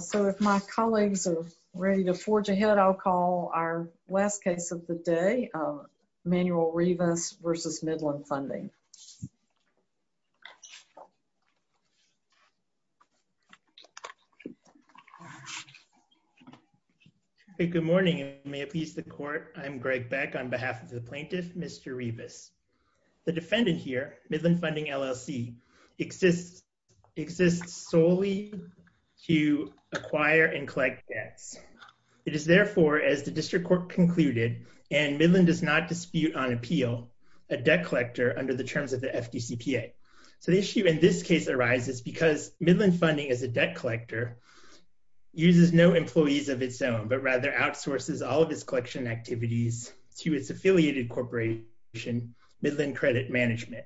So, if my colleagues are ready to forge ahead, I'll call our last case of the day, Manuel Rivas v. Midland Funding. Good morning and may it please the court, I'm Greg Beck on behalf of the plaintiff, Mr. Rivas. The defendant here, Midland Funding LLC, exists solely to acquire and collect debts. It is therefore, as the district court concluded, and Midland does not dispute on appeal, a debt collector under the terms of the FDCPA. So, the issue in this case arises because Midland Funding, as a debt collector, uses no employees of its own, but rather outsources all of its collection activities to its affiliated corporation, Midland Credit Management.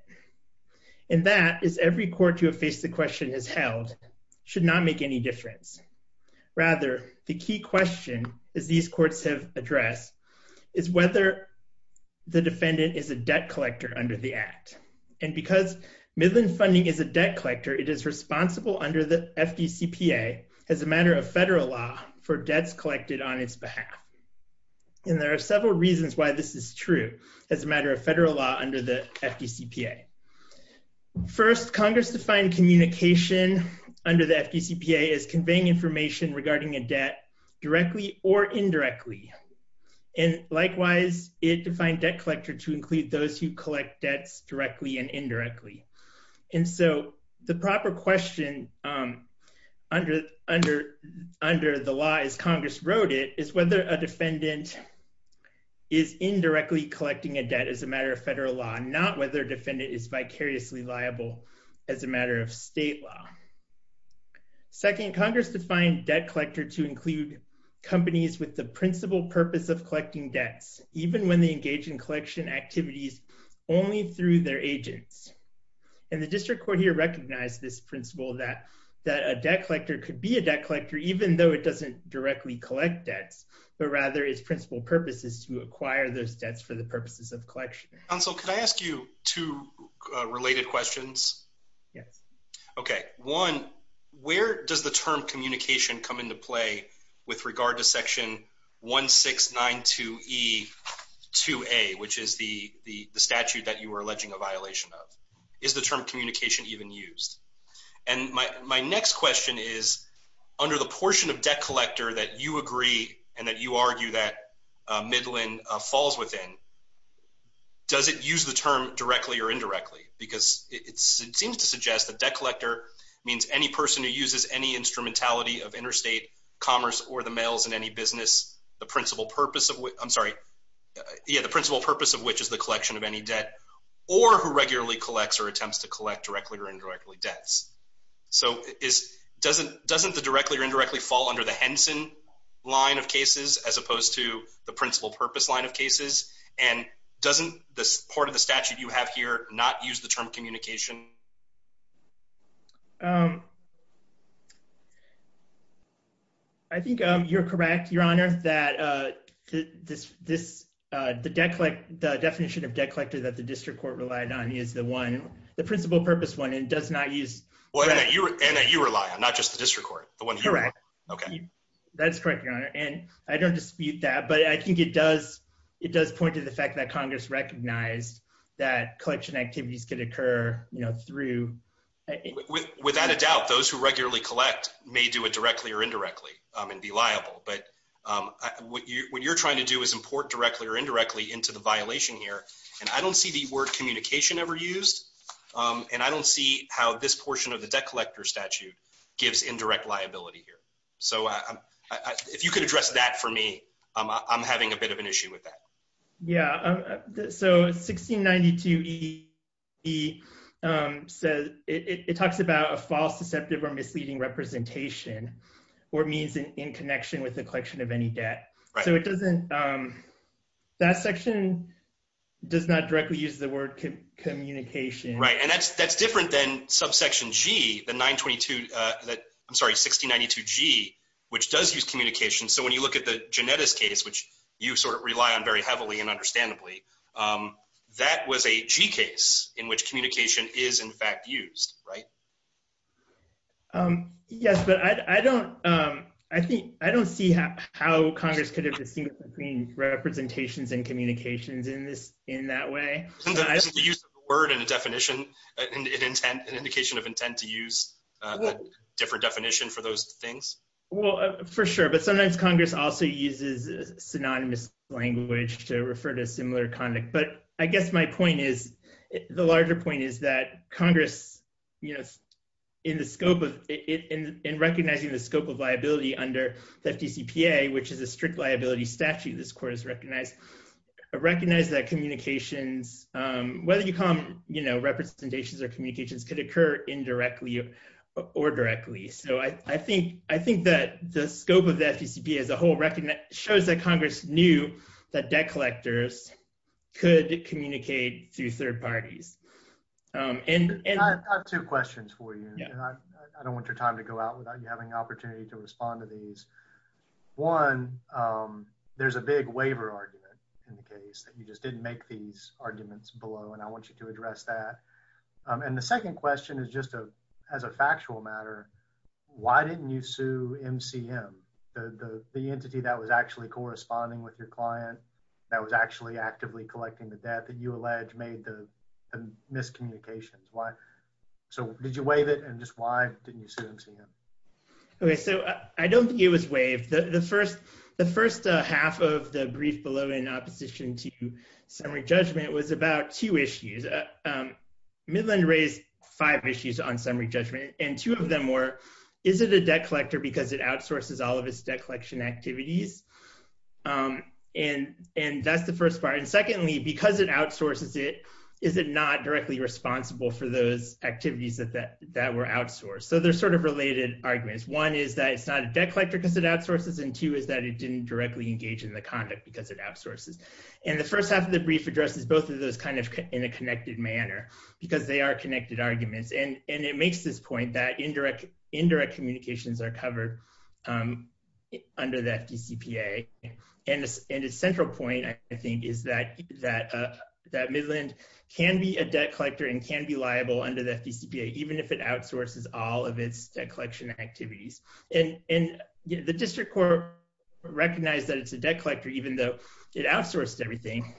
And that, as every court to have faced the question has held, should not make any difference. Rather, the key question, as these courts have addressed, is whether the defendant is a debt collector under the Act. And because Midland Funding is a debt collector, it is responsible under the FDCPA as a matter of federal law for debts collected on its behalf. And there are several reasons why this is true as a matter of federal law under the FDCPA. First, Congress defined communication under the FDCPA as conveying information regarding a debt directly or indirectly. And likewise, it defined debt collector to include those who collect debts directly and indirectly. And so, the proper question under the law, as Congress wrote it, is whether a defendant is indirectly collecting a debt as a matter of federal law, not whether a defendant is vicariously liable as a matter of state law. Second, Congress defined debt collector to include companies with the principal purpose of collecting debts, even when they engage in collection activities only through their agents. And the district court here recognized this principle that a debt collector could be a debt collector even though it doesn't directly collect debts, but rather its principal purpose is to acquire those debts for the purposes of collection. Counsel, can I ask you two related questions? Yes. Okay. One, where does the term communication come into play with regard to Section 1692E2A, which is the statute that you were alleging a violation of? Is the term communication even used? And my next question is, under the portion of debt collector that you agree and that you argue that Midland falls within, does it use the term directly or indirectly? Because it seems to suggest that debt collector means any person who uses any instrumentality of interstate commerce or the mails in any business, the principal purpose of which is the collection of any debt, or who regularly collects or attempts to collect directly or indirectly debts. So doesn't the directly or indirectly fall under the Henson line of cases as opposed to the principal purpose line of cases? And doesn't this part of the statute you have here not use the term communication? I think you're correct, Your Honor, that the definition of debt collector that the district court relied on is the one, the principal purpose one, and does not use- And that you rely on, not just the district court, the one you rely on. Correct. That's correct, Your Honor. And I don't dispute that, but I think it does point to the fact that Congress recognized that collection activities could occur through- Without a doubt, those who regularly collect may do it directly or indirectly and be liable, but what you're trying to do is import directly or indirectly into the violation here, and I don't see the word communication ever used, and I don't see how this portion of the debt collector statute gives indirect liability here. So if you could address that for me, I'm having a bit of an issue with that. Yeah. So 1692E says it talks about a false, deceptive, or misleading representation or means in connection with the collection of any debt. So it doesn't, that section does not directly use the word communication. Right. And that's different than subsection G, the 922, I'm sorry, 1692G, which does use communication. So when you look at the Genetis case, which you sort of rely on very heavily and understandably, that was a G case in which communication is in fact used, right? Yes, but I don't see how Congress could have distinguished between representations and communications in that way. Isn't the use of a word and a definition, an indication of intent to use a different definition for those things? Well, for sure. But sometimes Congress also uses synonymous language to refer to similar conduct. But I guess my point is, the larger point is that Congress, in recognizing the scope of liability under the FDCPA, which is a strict liability statute this court has recognized, recognized that communications, whether you call them representations or communications, could occur indirectly or directly. So I think that the scope of the FDCPA as a whole shows that Congress knew that debt collectors could communicate through third parties. I have two questions for you, and I don't want your time to go out without you having an opportunity to respond to these. One, there's a big waiver argument in the case, that you just didn't make these arguments below, and I want you to address that. And the second question is just as a factual matter, why didn't you sue MCM, the entity that was actually corresponding with your client, that was actually actively collecting the debt that you allege made the miscommunications? So did you waive it, and just why didn't you sue MCM? Okay, so I don't think it was waived. The first half of the brief below in opposition to summary judgment was about two issues. Midland raised five issues on summary judgment, and two of them were, is it a debt collector because it outsources all of its debt collection activities? And that's the first part. And secondly, because it outsources it, is it not directly responsible for those activities that were outsourced? So they're sort of related arguments. One is that it's not a debt collector because it outsources, and two is that it didn't directly engage in the conduct because it outsources. And the first half of the brief addresses both of those kind of in a connected manner, because they are connected arguments. And it makes this point that indirect communications are covered under the FDCPA. And its central point, I think, is that Midland can be a debt collector and can be liable under the FDCPA, even if it outsources all of its debt collection activities. And the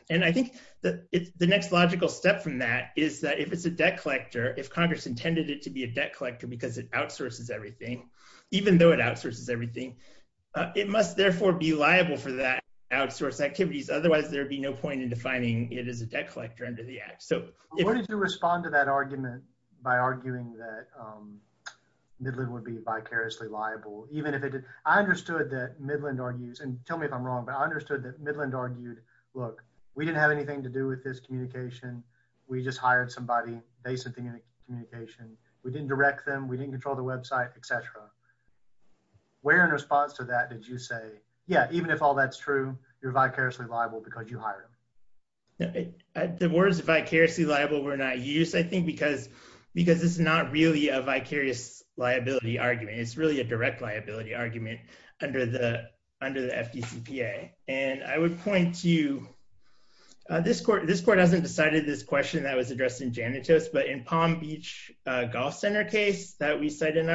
And I think the next logical step from that is that if it's a debt collector, if Congress intended it to be a debt collector, because it outsources everything, even though it outsources everything, it must therefore be liable for that outsource activities. Otherwise, there'd be no point in defining it as a debt collector under the act. So what did you respond to that argument by arguing that Midland would be vicariously liable, even if it did? I understood that Midland argues and tell me if I'm wrong, but I understood that Midland argued, look, we didn't have anything to do with this communication. We just hired somebody based on the communication. We didn't direct them, we didn't control the website, etc. Where in response to that did you say, yeah, even if all that's true, you're vicariously liable because you hire them. The words vicariously liable were not used, I think, because it's not really a vicarious liability argument. It's really a direct liability argument under the under the FDCPA. And I would point to this court. This court hasn't decided this question that was addressed in Janitus, but in Palm Beach Golf Center case that we said in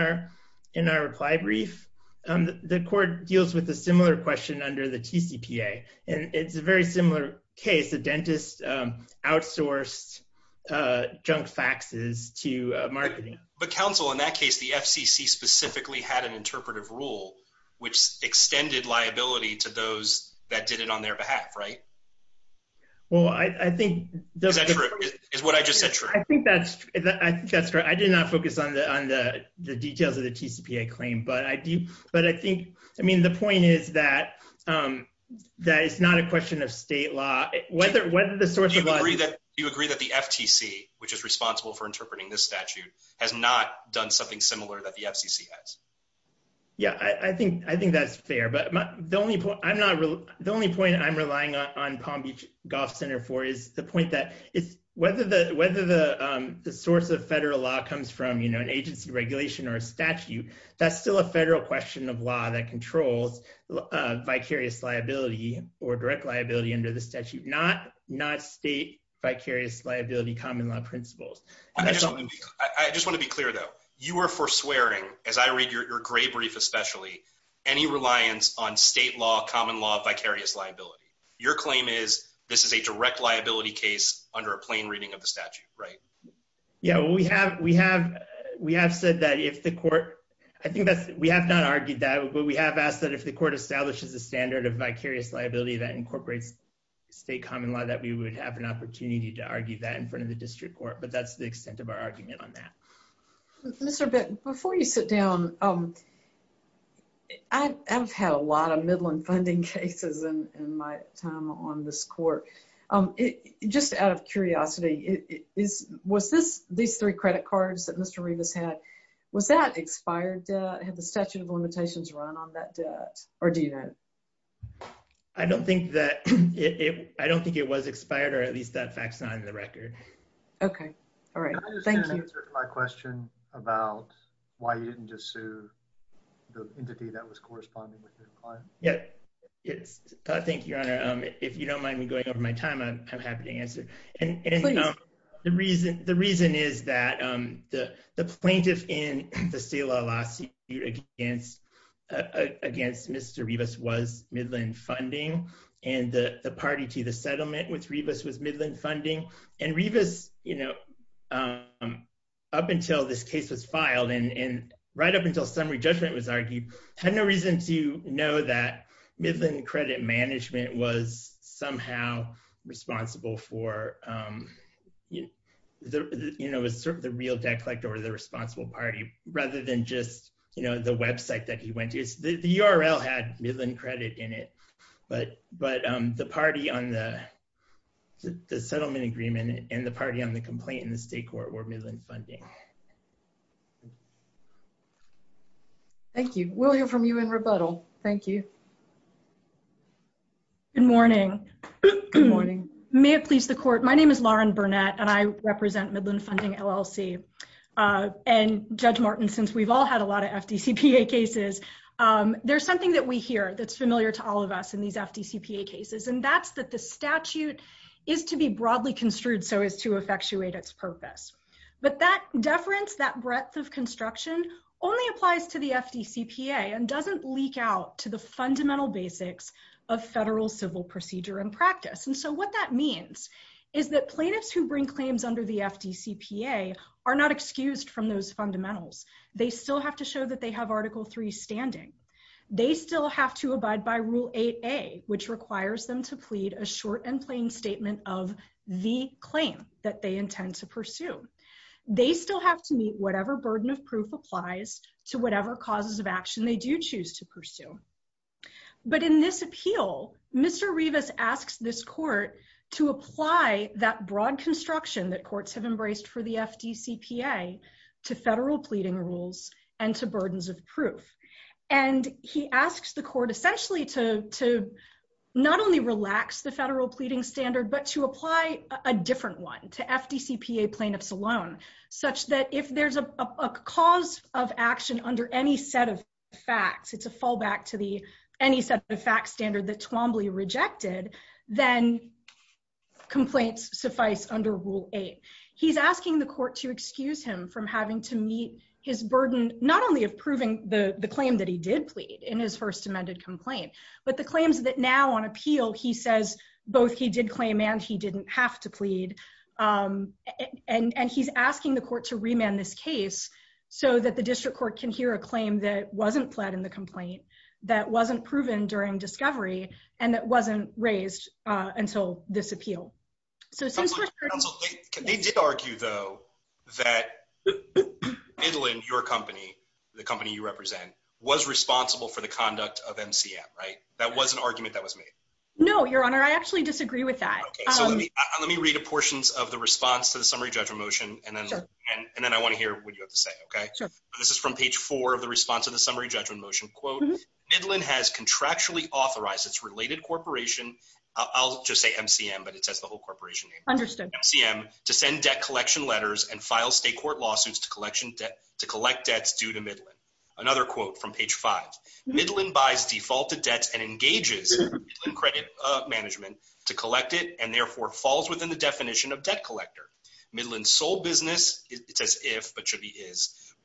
our reply brief, the court deals with a similar question under the TCPA. And it's a very similar case, a dentist outsourced junk faxes to marketing. But counsel, in that case, the FCC specifically had an interpretive rule, which extended liability to those that did it on their behalf, right? Well, I think that is what I just said. I think that's I think that's right. I did not focus on the on the details of the TCPA claim. But I do. But I think I mean, the point is that that is not a question of state law, whether whether the source of you agree that the FTC, which is responsible for interpreting this statute has not done something similar that the FCC has. Yeah, I think I think that's fair. But the only point I'm not the only point I'm relying on Palm Beach Golf Center for is the point that it's whether the whether the source of federal law comes from, you know, an agency regulation or a statute, that's still a federal question of law that controls vicarious liability or direct liability under the statute, not not state vicarious liability, common law principles. I just want to be clear, though, you are for swearing as I read your gray brief, especially any reliance on state law, common law, vicarious liability. Your claim is this is a direct liability case under a plain reading of the statute, right? Yeah, we have we have, we have said that if the court, I think that we have not argued that we have asked that if the court establishes a standard of vicarious liability that incorporates state common law, that we would have an opportunity to argue that in front of the district court. But that's the extent of our argument on that. Mr. Beck, before you sit down. I have had a lot of Midland funding cases in my time on this court. It just out of curiosity, it is was this these three credit cards that Mr. Rivas had? Was that expired? Had the statute of limitations run on that debt? Or do you know? I don't think that it I don't think it was expired, or at least that fact's not in the record. Okay. All right. Thank you. My question about why you didn't just sue the entity that was corresponding with your client? Yeah, it's I think your honor, if you don't mind me going over my time, I'm happy to answer. And against Mr. Rivas was Midland funding, and the party to the settlement with Rivas was Midland funding. And Rivas, you know, up until this case was filed, and right up until summary judgment was argued, had no reason to know that Midland credit management was somehow responsible for the, you know, the real debt collector or the responsible party, rather than just, you know, the website that he went to. The URL had Midland credit in it. But, but the party on the the settlement agreement and the party on the complaint in the state court were Midland funding. Thank you. We'll hear from you in rebuttal. Thank you. Good morning. Good morning. May it please the court. My name is Lauren Burnett, and I a lot of FDCPA cases. There's something that we hear that's familiar to all of us in these FDCPA cases. And that's that the statute is to be broadly construed so as to effectuate its purpose. But that deference, that breadth of construction only applies to the FDCPA and doesn't leak out to the fundamental basics of federal civil procedure and practice. And so what that means is that plaintiffs who bring claims under the FDCPA are not excused from those fundamentals. They still have to show that they have Article 3 standing. They still have to abide by Rule 8a, which requires them to plead a short and plain statement of the claim that they intend to pursue. They still have to meet whatever burden of proof applies to whatever causes of action they do choose to pursue. But in this appeal, Mr. Rivas asks this court to apply that broad construction that courts have embraced for the FDCPA to federal pleading rules and to burdens of proof. And he asks the court essentially to not only relax the federal pleading standard, but to apply a different one to FDCPA plaintiffs alone, such that if there's a cause of action under any set of facts, it's a fallback to any set of facts standard that Twombly rejected, then complaints suffice under Rule 8. He's asking the court to excuse him from having to meet his burden, not only of proving the claim that he did plead in his first amended complaint, but the claims that now on appeal, he says both he did claim and he didn't have to plead. And he's asking the court to remand this case so that the district court can hear a claim that wasn't proven during discovery and that wasn't raised until this appeal. So since we're- Counsel, they did argue though that Midland, your company, the company you represent, was responsible for the conduct of MCM, right? That was an argument that was made. No, Your Honor, I actually disagree with that. Okay, so let me read the portions of the response to the summary judgment motion, and then I want to hear what you have to say, okay? Sure. This is from page four of the response to the summary judgment motion, quote, Midland has contractually authorized its related corporation. I'll just say MCM, but it says the whole corporation name. Understood. MCM to send debt collection letters and file state court lawsuits to collection debt, to collect debts due to Midland. Another quote from page five, Midland buys defaulted debts and engages in credit management to collect it and therefore falls within the definition of debt collector. Midland's sole business, it says if, but should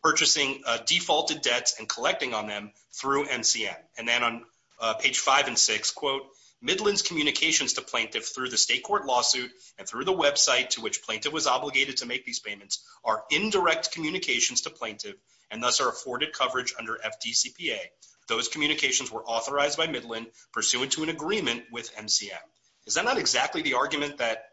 purchasing defaulted debts and collecting on them through MCM. And then on page five and six, quote, Midland's communications to plaintiff through the state court lawsuit and through the website to which plaintiff was obligated to make these payments are indirect communications to plaintiff and thus are afforded coverage under FDCPA. Those communications were authorized by Midland pursuant to an agreement with MCM. Is that not exactly the argument that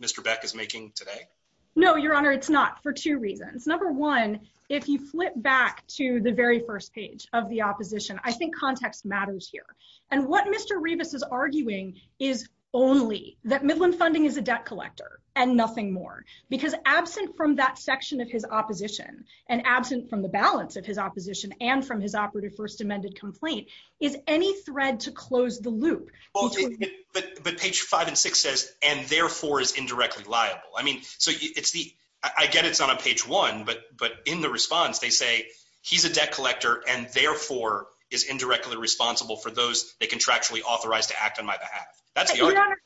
Mr. Beck is making today? No, your honor. It's not for two reasons. Number one, if you flip back to the very first page of the opposition, I think context matters here. And what Mr. Rivas is arguing is only that Midland funding is a debt collector and nothing more because absent from that section of his opposition and absent from the balance of his opposition and from his operative first amended complaint is any thread to close the loop. But page five and six says, and therefore is indirectly liable. I mean, so it's the, I get it's on a page one, but, but in the response, they say he's a debt collector and therefore is indirectly responsible for those that contractually authorized to act on my behalf. That's the argument.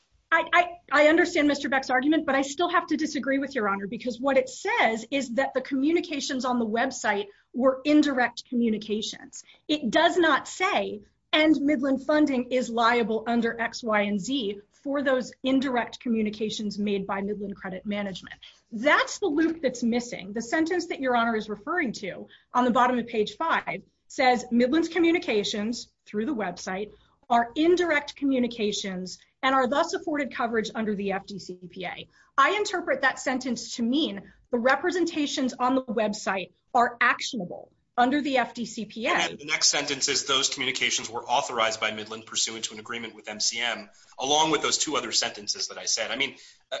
I understand Mr. Beck's argument, but I still have to disagree with your honor, because what it says is that the communications on the website were indirect communications. It does not say, and Midland funding is liable under X, Y, and Z for those indirect communications made by Midland credit management. That's the loop that's missing. The sentence that your honor is referring to on the bottom of page five says Midland's communications through the website are indirect communications and are thus afforded coverage under the FDCPA. I interpret that sentence to mean the representations on the website are actionable under the FDCPA. And the next sentence is those communications were authorized by Midland pursuant to an agreement with MCM, along with those two other sentences that I said. I mean,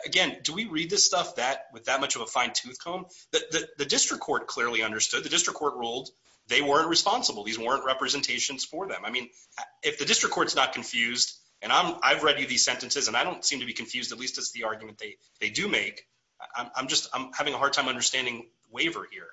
again, do we read this stuff that with that much of a fine tooth comb? The district court clearly understood the district court ruled they weren't responsible. These weren't representations for them. I mean, if the district court's not confused and I've read you these sentences, and I don't seem to be confused, at least it's the argument they do make. I'm just, I'm having a hard time understanding waiver here.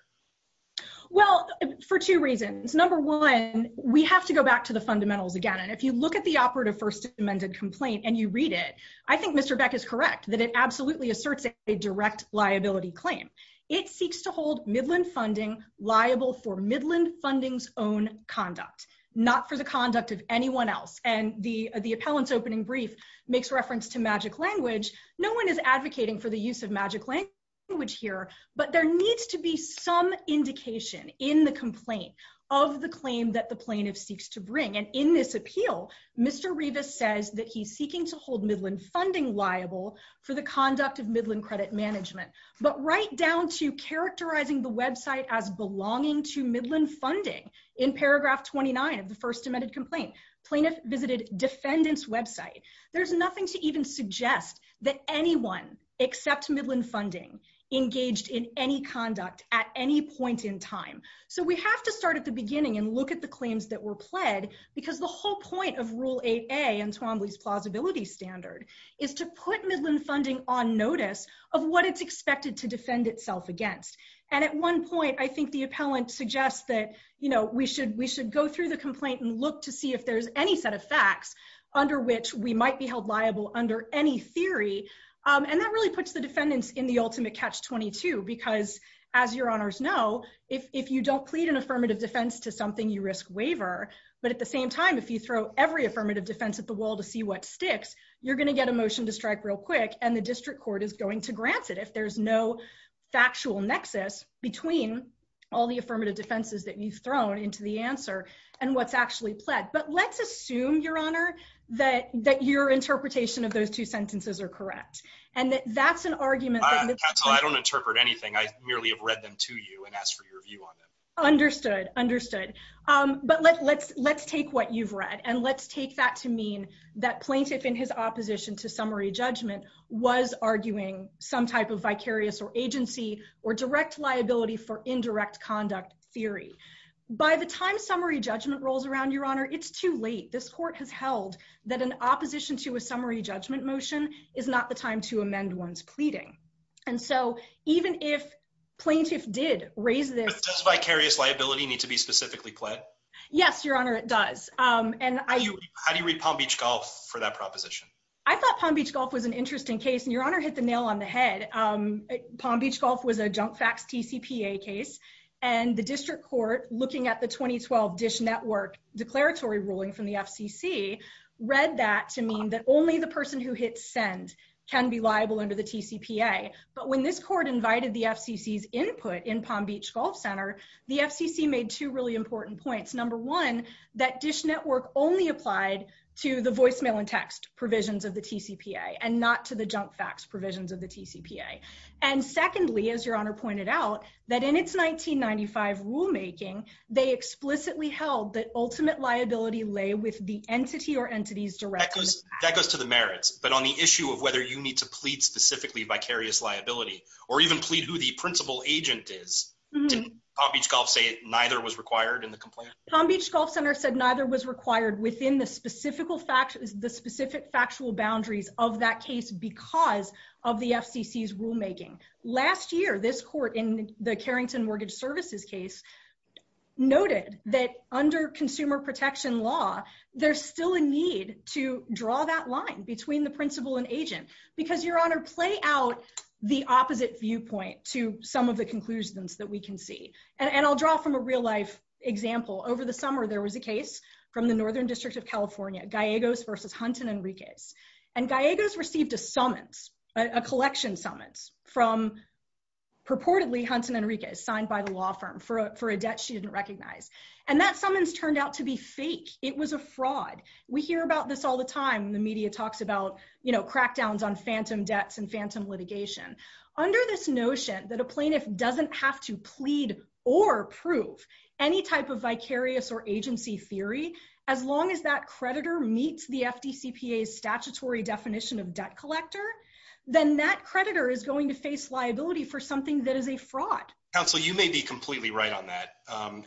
Well, for two reasons. Number one, we have to go back to the fundamentals again. And if you look at the operative first amended complaint and you read it, I think Mr. Beck is correct that it absolutely asserts a direct liability claim. It seeks to hold Midland funding liable for Midland funding's own conduct, not for the conduct of anyone else. And the appellant's opening brief makes reference to magic language. No one is advocating for the use of magic language here, but there needs to be some indication in the complaint of the claim that the plaintiff seeks to bring. And in this appeal, Mr. Rivas says that he's seeking to hold Midland funding liable for the conduct of Midland credit management. But right down to characterizing the website as belonging to Midland funding in paragraph 29 of the first amended complaint, plaintiff visited defendant's website. There's nothing to even suggest that anyone except Midland funding engaged in any conduct at any point in time. So we have to start at the beginning and look at the claims that were pled because the whole point of rule 8A and Twombly's plausibility standard is to put Midland funding on notice of what it's expected to defend itself against. And at one point, I think the appellant suggests that we should go through the complaint and look to see if there's any set of facts under which we might be held liable under any theory. And that puts the defendants in the ultimate catch-22, because as your honors know, if you don't plead an affirmative defense to something, you risk waiver. But at the same time, if you throw every affirmative defense at the wall to see what sticks, you're going to get a motion to strike real quick and the district court is going to grant it if there's no factual nexus between all the affirmative defenses that you've thrown into the answer and what's actually pled. But let's assume, your honor, that your interpretation of those two sentences are correct. And that that's an argument that- I don't interpret anything. I merely have read them to you and asked for your view on them. Understood, understood. But let's take what you've read and let's take that to mean that plaintiff in his opposition to summary judgment was arguing some type of vicarious or agency or direct liability for indirect conduct theory. By the time summary judgment rolls around, your honor, it's too late. This court has held that an opposition to a summary judgment motion is not the time to amend one's pleading. And so even if plaintiff did raise this- But does vicarious liability need to be specifically pled? Yes, your honor, it does. And I- How do you read Palm Beach Golf for that proposition? I thought Palm Beach Golf was an interesting case and your honor hit the nail on the head. Palm Beach Golf was a junk facts TCPA case and the district court looking at the 2012 Dish Network declaratory ruling from the FCC read that to mean that only the person who hits send can be liable under the TCPA. But when this court invited the FCC's input in Palm Beach Golf Center, the FCC made two really important points. Number one, that Dish Network only applied to the voicemail and text provisions of the TCPA and not to the junk facts provisions of the TCPA. And secondly, as your honor pointed out, that in its 1995 rulemaking, they explicitly held that ultimate liability lay with the entity or entities directly- That goes to the merits, but on the issue of whether you need to plead specifically vicarious liability or even plead who the principal agent is, didn't Palm Beach Golf say neither was required in the complaint? Palm Beach Golf Center said neither was required within the specific factual boundaries of that case because of the FCC's rulemaking. Last year, this court in the Carrington Mortgage Services case noted that under consumer protection law, there's still a need to draw that line between the principal and agent because, your honor, play out the opposite viewpoint to some of the conclusions that we can see. And I'll draw from a real life example. Over the summer, there was a case from the Northern District of California, Gallegos versus Hunt and Enriquez. And Gallegos received a summons, a collection summons from purportedly Hunt and Enriquez, signed by the law firm for a debt she didn't recognize. And that summons turned out to be fake. It was a fraud. We hear about this all the time. The media talks about, you know, crackdowns on phantom debts and phantom litigation. Under this notion that a plaintiff doesn't have to plead or prove any type of vicarious or agency theory, as long as that creditor meets the FDCPA's statutory definition of debt collector, then that creditor is going to face liability for something that is a fraud. Counsel, you may be completely right on that.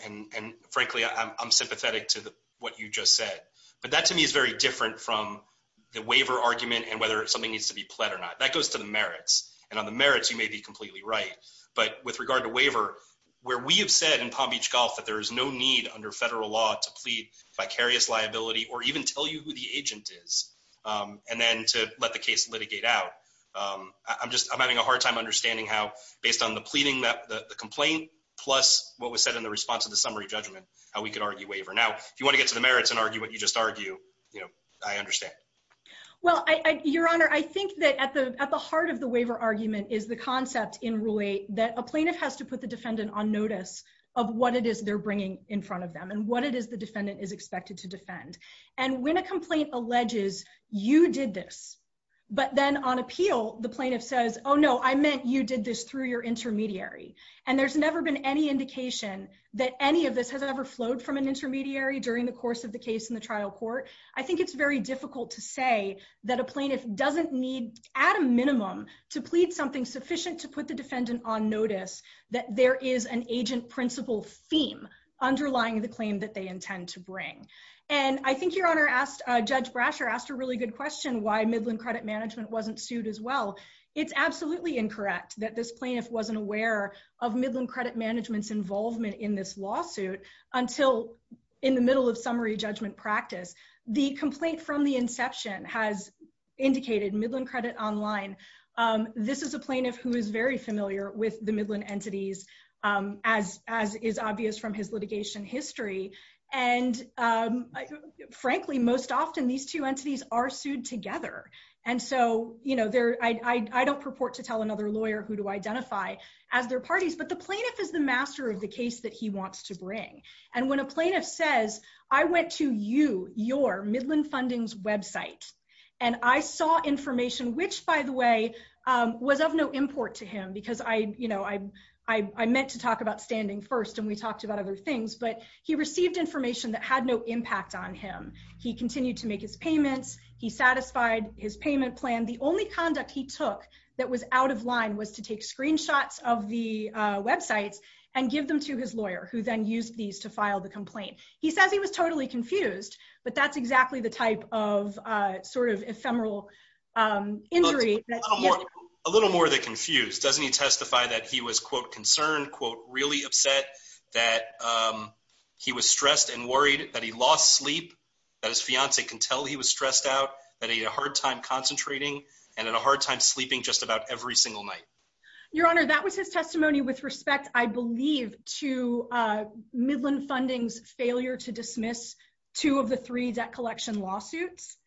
And frankly, I'm sympathetic to what you just said. But that to me is very different from the waiver argument and whether something needs to be pled or not. That goes to the merits. And on the merits, you may be completely right. But with regard to vicarious liability or even tell you who the agent is and then to let the case litigate out, I'm having a hard time understanding how, based on the pleading that the complaint, plus what was said in the response to the summary judgment, how we could argue waiver. Now, if you want to get to the merits and argue what you just argued, you know, I understand. Well, Your Honor, I think that at the heart of the waiver argument is the concept in Rule 8 that a plaintiff has to put the defendant on notice of what it is they're bringing in front of them and what it is the defendant is expected to defend. And when a complaint alleges, you did this, but then on appeal, the plaintiff says, oh, no, I meant you did this through your intermediary. And there's never been any indication that any of this has ever flowed from an intermediary during the course of the case in the trial court. I think it's very difficult to say that a plaintiff doesn't need at a minimum to plead something sufficient to put the defendant on underlying the claim that they intend to bring. And I think Your Honor asked, Judge Brasher asked a really good question, why Midland Credit Management wasn't sued as well. It's absolutely incorrect that this plaintiff wasn't aware of Midland Credit Management's involvement in this lawsuit until in the middle of summary judgment practice. The complaint from the inception has indicated Midland Credit Online. This is a plaintiff who is very familiar with the Midland entities, as is obvious from his litigation history. And frankly, most often these two entities are sued together. And so I don't purport to tell another lawyer who to identify as their parties, but the plaintiff is the master of the case that he wants to bring. And when a plaintiff says, I went to you, your Midland Fundings website, and I saw information, which by the way, was of no import to him, because I, you know, I meant to talk about standing first and we talked about other things, but he received information that had no impact on him. He continued to make his payments. He satisfied his payment plan. The only conduct he took that was out of line was to take screenshots of the websites and give them to his lawyer, who then used these to file the complaint. He says he was totally confused, but that's exactly the type of sort of ephemeral injury. A little more than confused. Doesn't he testify that he was, quote, concerned, quote, really upset, that he was stressed and worried, that he lost sleep, that his fiance can tell he was stressed out, that he had a hard time concentrating, and had a hard time sleeping just about every single night? Your Honor, that was his testimony with respect, I believe, to Midland Fundings' failure to dismiss two of the three debt collection lawsuits,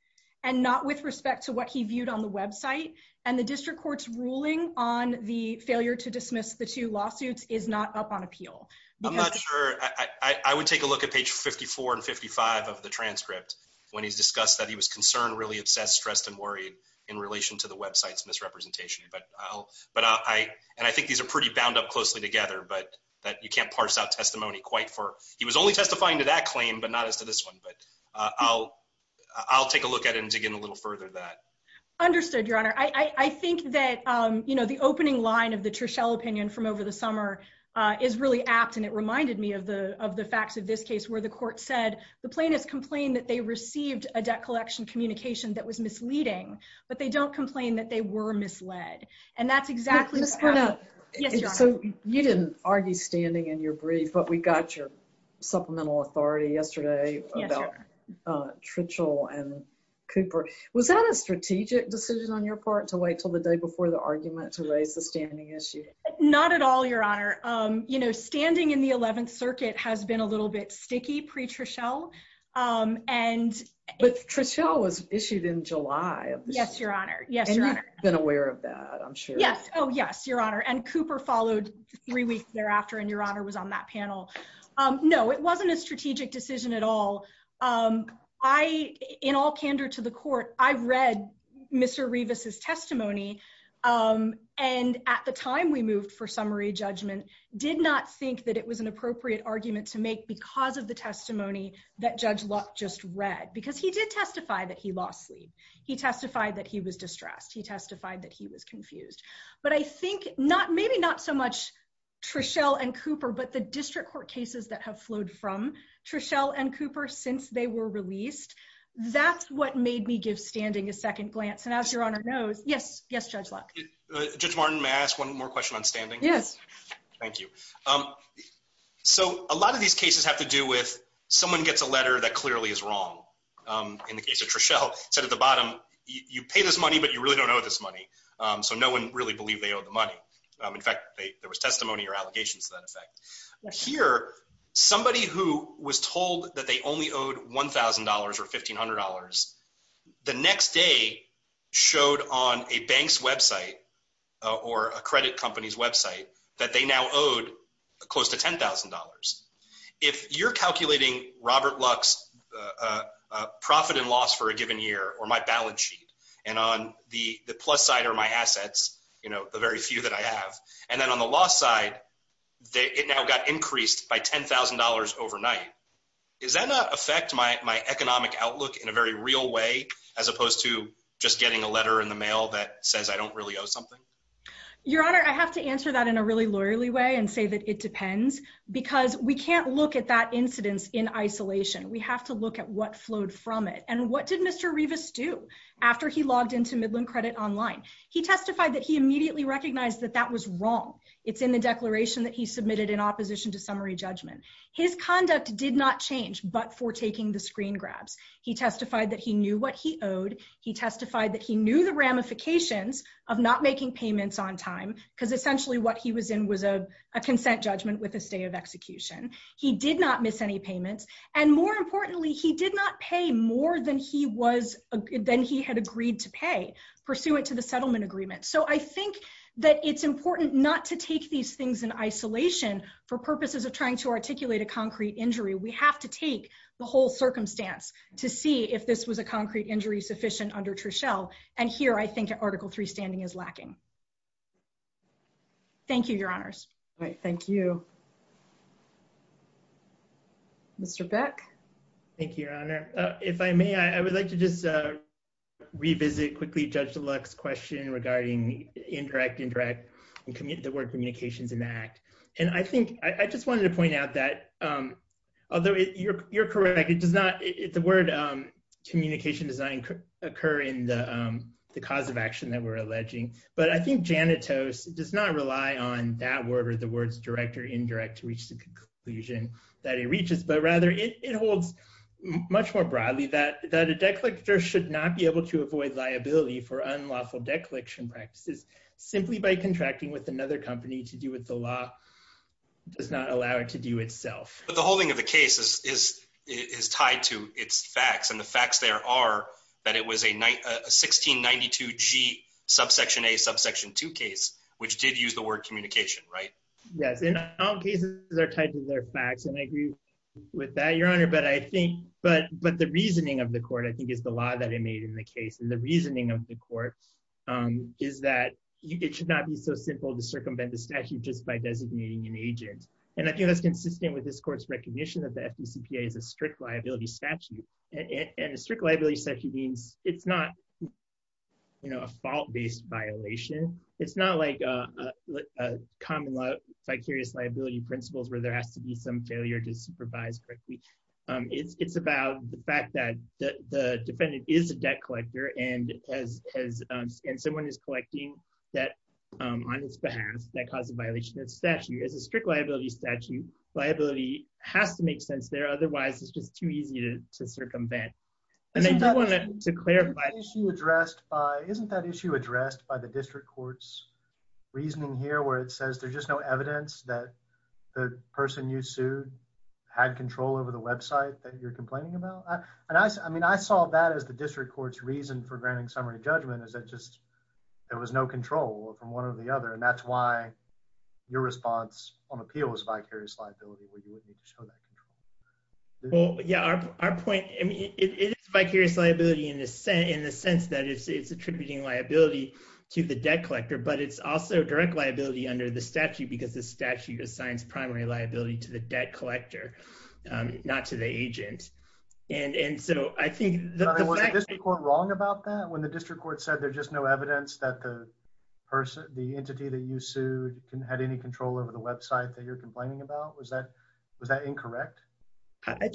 and not with respect to what he viewed on the website, and the district court's ruling on the failure to dismiss the two lawsuits is not up on appeal. I'm not sure. I would take a look at page 54 and 55 of the transcript when he's discussed that he was concerned, really obsessed, stressed, and worried in relation to the website's misrepresentation, but I'll, but I, and I think these are pretty bound up closely together, but that you can't parse out testimony quite for, he was only testifying to that claim, but not as to this one, but I'll, I'll take a look at it and dig in a little further than that. Understood, Your Honor. I, I think that, you know, the opening line of the Trischel opinion from over the summer is really apt, and it reminded me of the, of the facts of this case, where the court said the plaintiffs complained that they received a debt collection communication that was misleading, but they don't complain that they were misled, and that's exactly what happened. So you didn't argue standing in your brief, but we got your supplemental authority yesterday about Trischel and Cooper. Was that a strategic decision on your part to wait till the day before the argument to raise the standing issue? Not at all, Your Honor. You know, standing in the 11th Circuit has been a little bit sticky pre-Trischel, and... But Trischel was issued in July. Yes, Your Honor. Yes, Your Honor. And you've been aware of that, I'm sure. Yes. Oh, yes, Your Honor. And Cooper followed three weeks thereafter, and Your Honor was on that panel. No, it wasn't a strategic decision at all. I, in all candor to the court, I read Mr. Revis's testimony, and at the time we moved for summary judgment, did not think that it was an appropriate argument to make because of the testimony that Judge Luck just read, because he did testify that he lost sleep. He testified that he was confused. But I think not, maybe not so much Trischel and Cooper, but the district court cases that have flowed from Trischel and Cooper since they were released, that's what made me give standing a second glance. And as Your Honor knows, yes, yes, Judge Luck. Judge Martin, may I ask one more question on standing? Yes. Thank you. So a lot of these cases have to do with someone gets a letter that clearly is wrong. In the case of Trischel, it said at the bottom, you pay this money. So no one really believed they owed the money. In fact, there was testimony or allegations to that effect. Here, somebody who was told that they only owed $1,000 or $1,500, the next day showed on a bank's website or a credit company's website that they now owed close to $10,000. If you're calculating Robert Luck's profit and loss for a given year, or my balance sheet, and on the plus side are my assets, the very few that I have. And then on the loss side, it now got increased by $10,000 overnight. Is that not affect my economic outlook in a very real way, as opposed to just getting a letter in the mail that says I don't really owe something? Your Honor, I have to answer that in a really lawyerly way and say that it depends, because we can't look at that incidence in isolation. We have to look at what flowed from it. And what did Mr. Rivas do after he logged into Midland Credit Online? He testified that he immediately recognized that that was wrong. It's in the declaration that he submitted in opposition to summary judgment. His conduct did not change, but for taking the screen grabs. He testified that he knew what he owed. He testified that he knew the ramifications of not making payments on time, because essentially what he was in was a consent judgment with a execution. He did not miss any payments. And more importantly, he did not pay more than he had agreed to pay pursuant to the settlement agreement. So I think that it's important not to take these things in isolation for purposes of trying to articulate a concrete injury. We have to take the whole circumstance to see if this was a concrete injury sufficient under Trussell. And here I think Article III standing is lacking. Thank you, Your Honors. All right. Thank you. Mr. Beck? Thank you, Your Honor. If I may, I would like to just revisit quickly Judge DeLuck's question regarding indirect, indirect, and the word communications enact. And I think I just wanted to point out that, although you're correct, it does not, the word communication does not occur in the cause of action that we're alleging. But I think janitos does not rely on that word or the words direct or indirect to reach the conclusion that it reaches, but rather it holds much more broadly that a decollector should not be able to avoid liability for unlawful decollection practices simply by contracting with another company to do what the law does not allow it to do itself. But the holding of the case is tied to its facts. And the facts there are that it was a 1692G subsection A, subsection 2 case, which did use the word communication, right? Yes. And all cases are tied to their facts. And I agree with that, Your Honor. But I think, but the reasoning of the court, I think, is the law that it made in the case. And the reasoning of the court is that it should not be so simple to circumvent the statute just by designating an FDCPA as a strict liability statute. And a strict liability statute means it's not, you know, a fault-based violation. It's not like a common fictitious liability principles where there has to be some failure to supervise correctly. It's about the fact that the defendant is a debt collector and someone is collecting debt on his behalf that caused a violation of has to make sense there. Otherwise, it's just too easy to circumvent. Isn't that issue addressed by the district court's reasoning here where it says there's just no evidence that the person you sued had control over the website that you're complaining about? And I mean, I saw that as the district court's reason for granting summary judgment is that just there was no control from one or the other. And that's why your response on appeal was vicarious liability, where you wouldn't need to show that control. Well, yeah, our point, I mean, it is vicarious liability in the sense that it's attributing liability to the debt collector, but it's also direct liability under the statute because the statute assigns primary liability to the debt collector, not to the agent. And so I think that the fact— But was the district court wrong about that when the district court said there's just no evidence that the entity that you sued had any control over the website that you're complaining about? Was that incorrect? I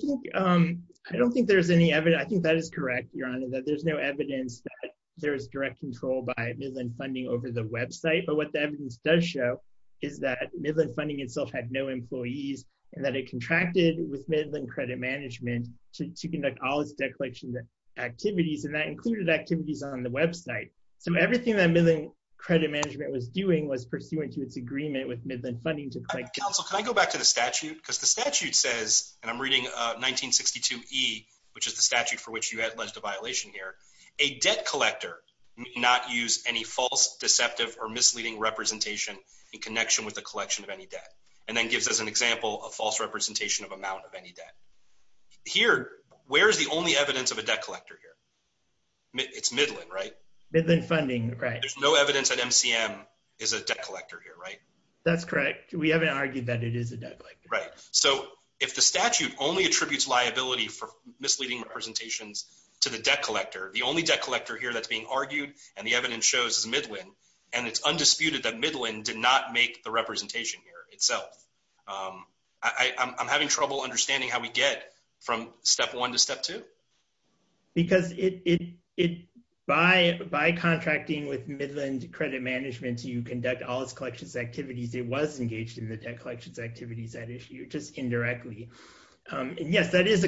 don't think there's any evidence. I think that is correct, Your Honor, that there's no evidence that there's direct control by Midland Funding over the website. But what the evidence does show is that Midland Funding itself had no employees and that it contracted with Midland Credit Management to conduct all its debt collection activities, and that included activities on the website. So the thing that Midland Credit Management was doing was pursuant to its agreement with Midland Funding to collect— Counsel, can I go back to the statute? Because the statute says, and I'm reading 1962E, which is the statute for which you alleged a violation here, a debt collector may not use any false, deceptive, or misleading representation in connection with the collection of any debt, and then gives us an example of false representation of amount of any debt. Here, where is the only evidence of a debt collector here? It's Midland, right? Midland Funding, right. There's no evidence that MCM is a debt collector here, right? That's correct. We haven't argued that it is a debt collector. Right. So if the statute only attributes liability for misleading representations to the debt collector, the only debt collector here that's being argued, and the evidence shows, is Midland, and it's undisputed that Midland did not make the representation here itself, I'm having trouble understanding how we get from step one to step two. Because by contracting with Midland Credit Management to conduct all its collections activities, it was engaged in the debt collections activities at issue, just indirectly. And yes, it is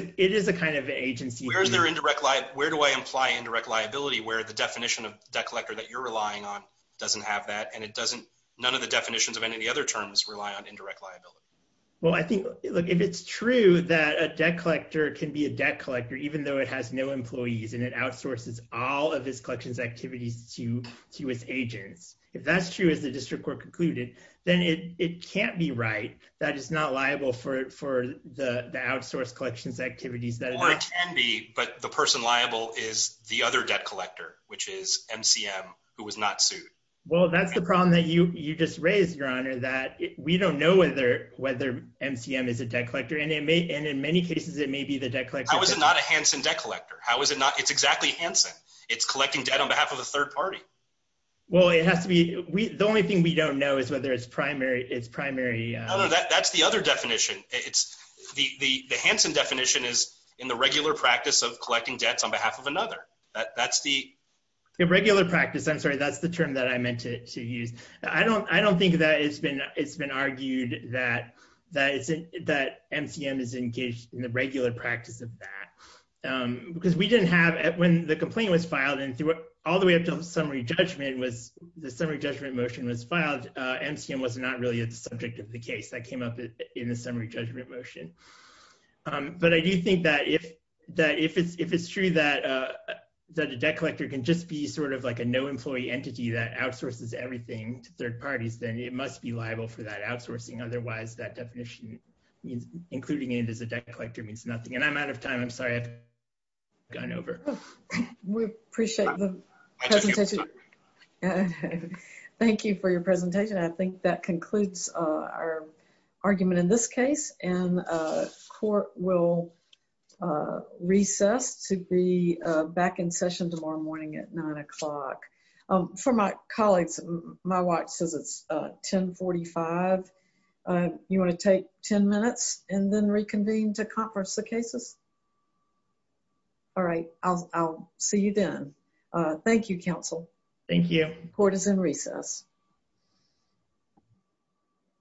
a kind of agency. Where is there indirect liability? Where do I imply indirect liability, where the definition of debt collector that you're relying on doesn't have that, and none of the definitions of any other terms rely on indirect liability? Well, I think, look, if it's true that a debt collector can be a debt collector, even though it has no employees, and it outsources all of its collections activities to its agents, if that's true, as the district court concluded, then it can't be right, that it's not liable for the outsourced collections activities. Well, it can be, but the person liable is the other debt collector, which is MCM, who was not sued. Well, that's the problem that you just raised, Your Honor, that we don't know whether MCM is a debt collector, and in many cases, it may be the debt collector. How is it not a Hanson debt collector? How is it not, it's exactly Hanson. It's collecting debt on behalf of a third party. Well, it has to be, the only thing we don't know is whether it's primary, it's primary. That's the other definition. The Hanson definition is in the regular practice of collecting debts on behalf of another. That's the... Regular practice, I'm sorry, that's the term that I meant to use. I don't think that it's been argued that MCM is engaged in the regular practice of that, because we didn't have... When the complaint was filed, and all the way up to the summary judgment was, the summary judgment motion was filed, MCM was not really the subject of the case that came up in the summary judgment motion. But I do think that if it's true that a debt collector can just be sort of like no employee entity that outsources everything to third parties, then it must be liable for that outsourcing. Otherwise, that definition means including it as a debt collector means nothing. And I'm out of time. I'm sorry, I've gone over. We appreciate the presentation. Thank you for your presentation. I think that concludes our argument in this case. And court will recess to be back in session tomorrow morning at nine o'clock. For my colleagues, my watch says it's 1045. You want to take 10 minutes and then reconvene to converse the cases? All right, I'll see you then. Thank you, counsel. Thank you. Court is in recess.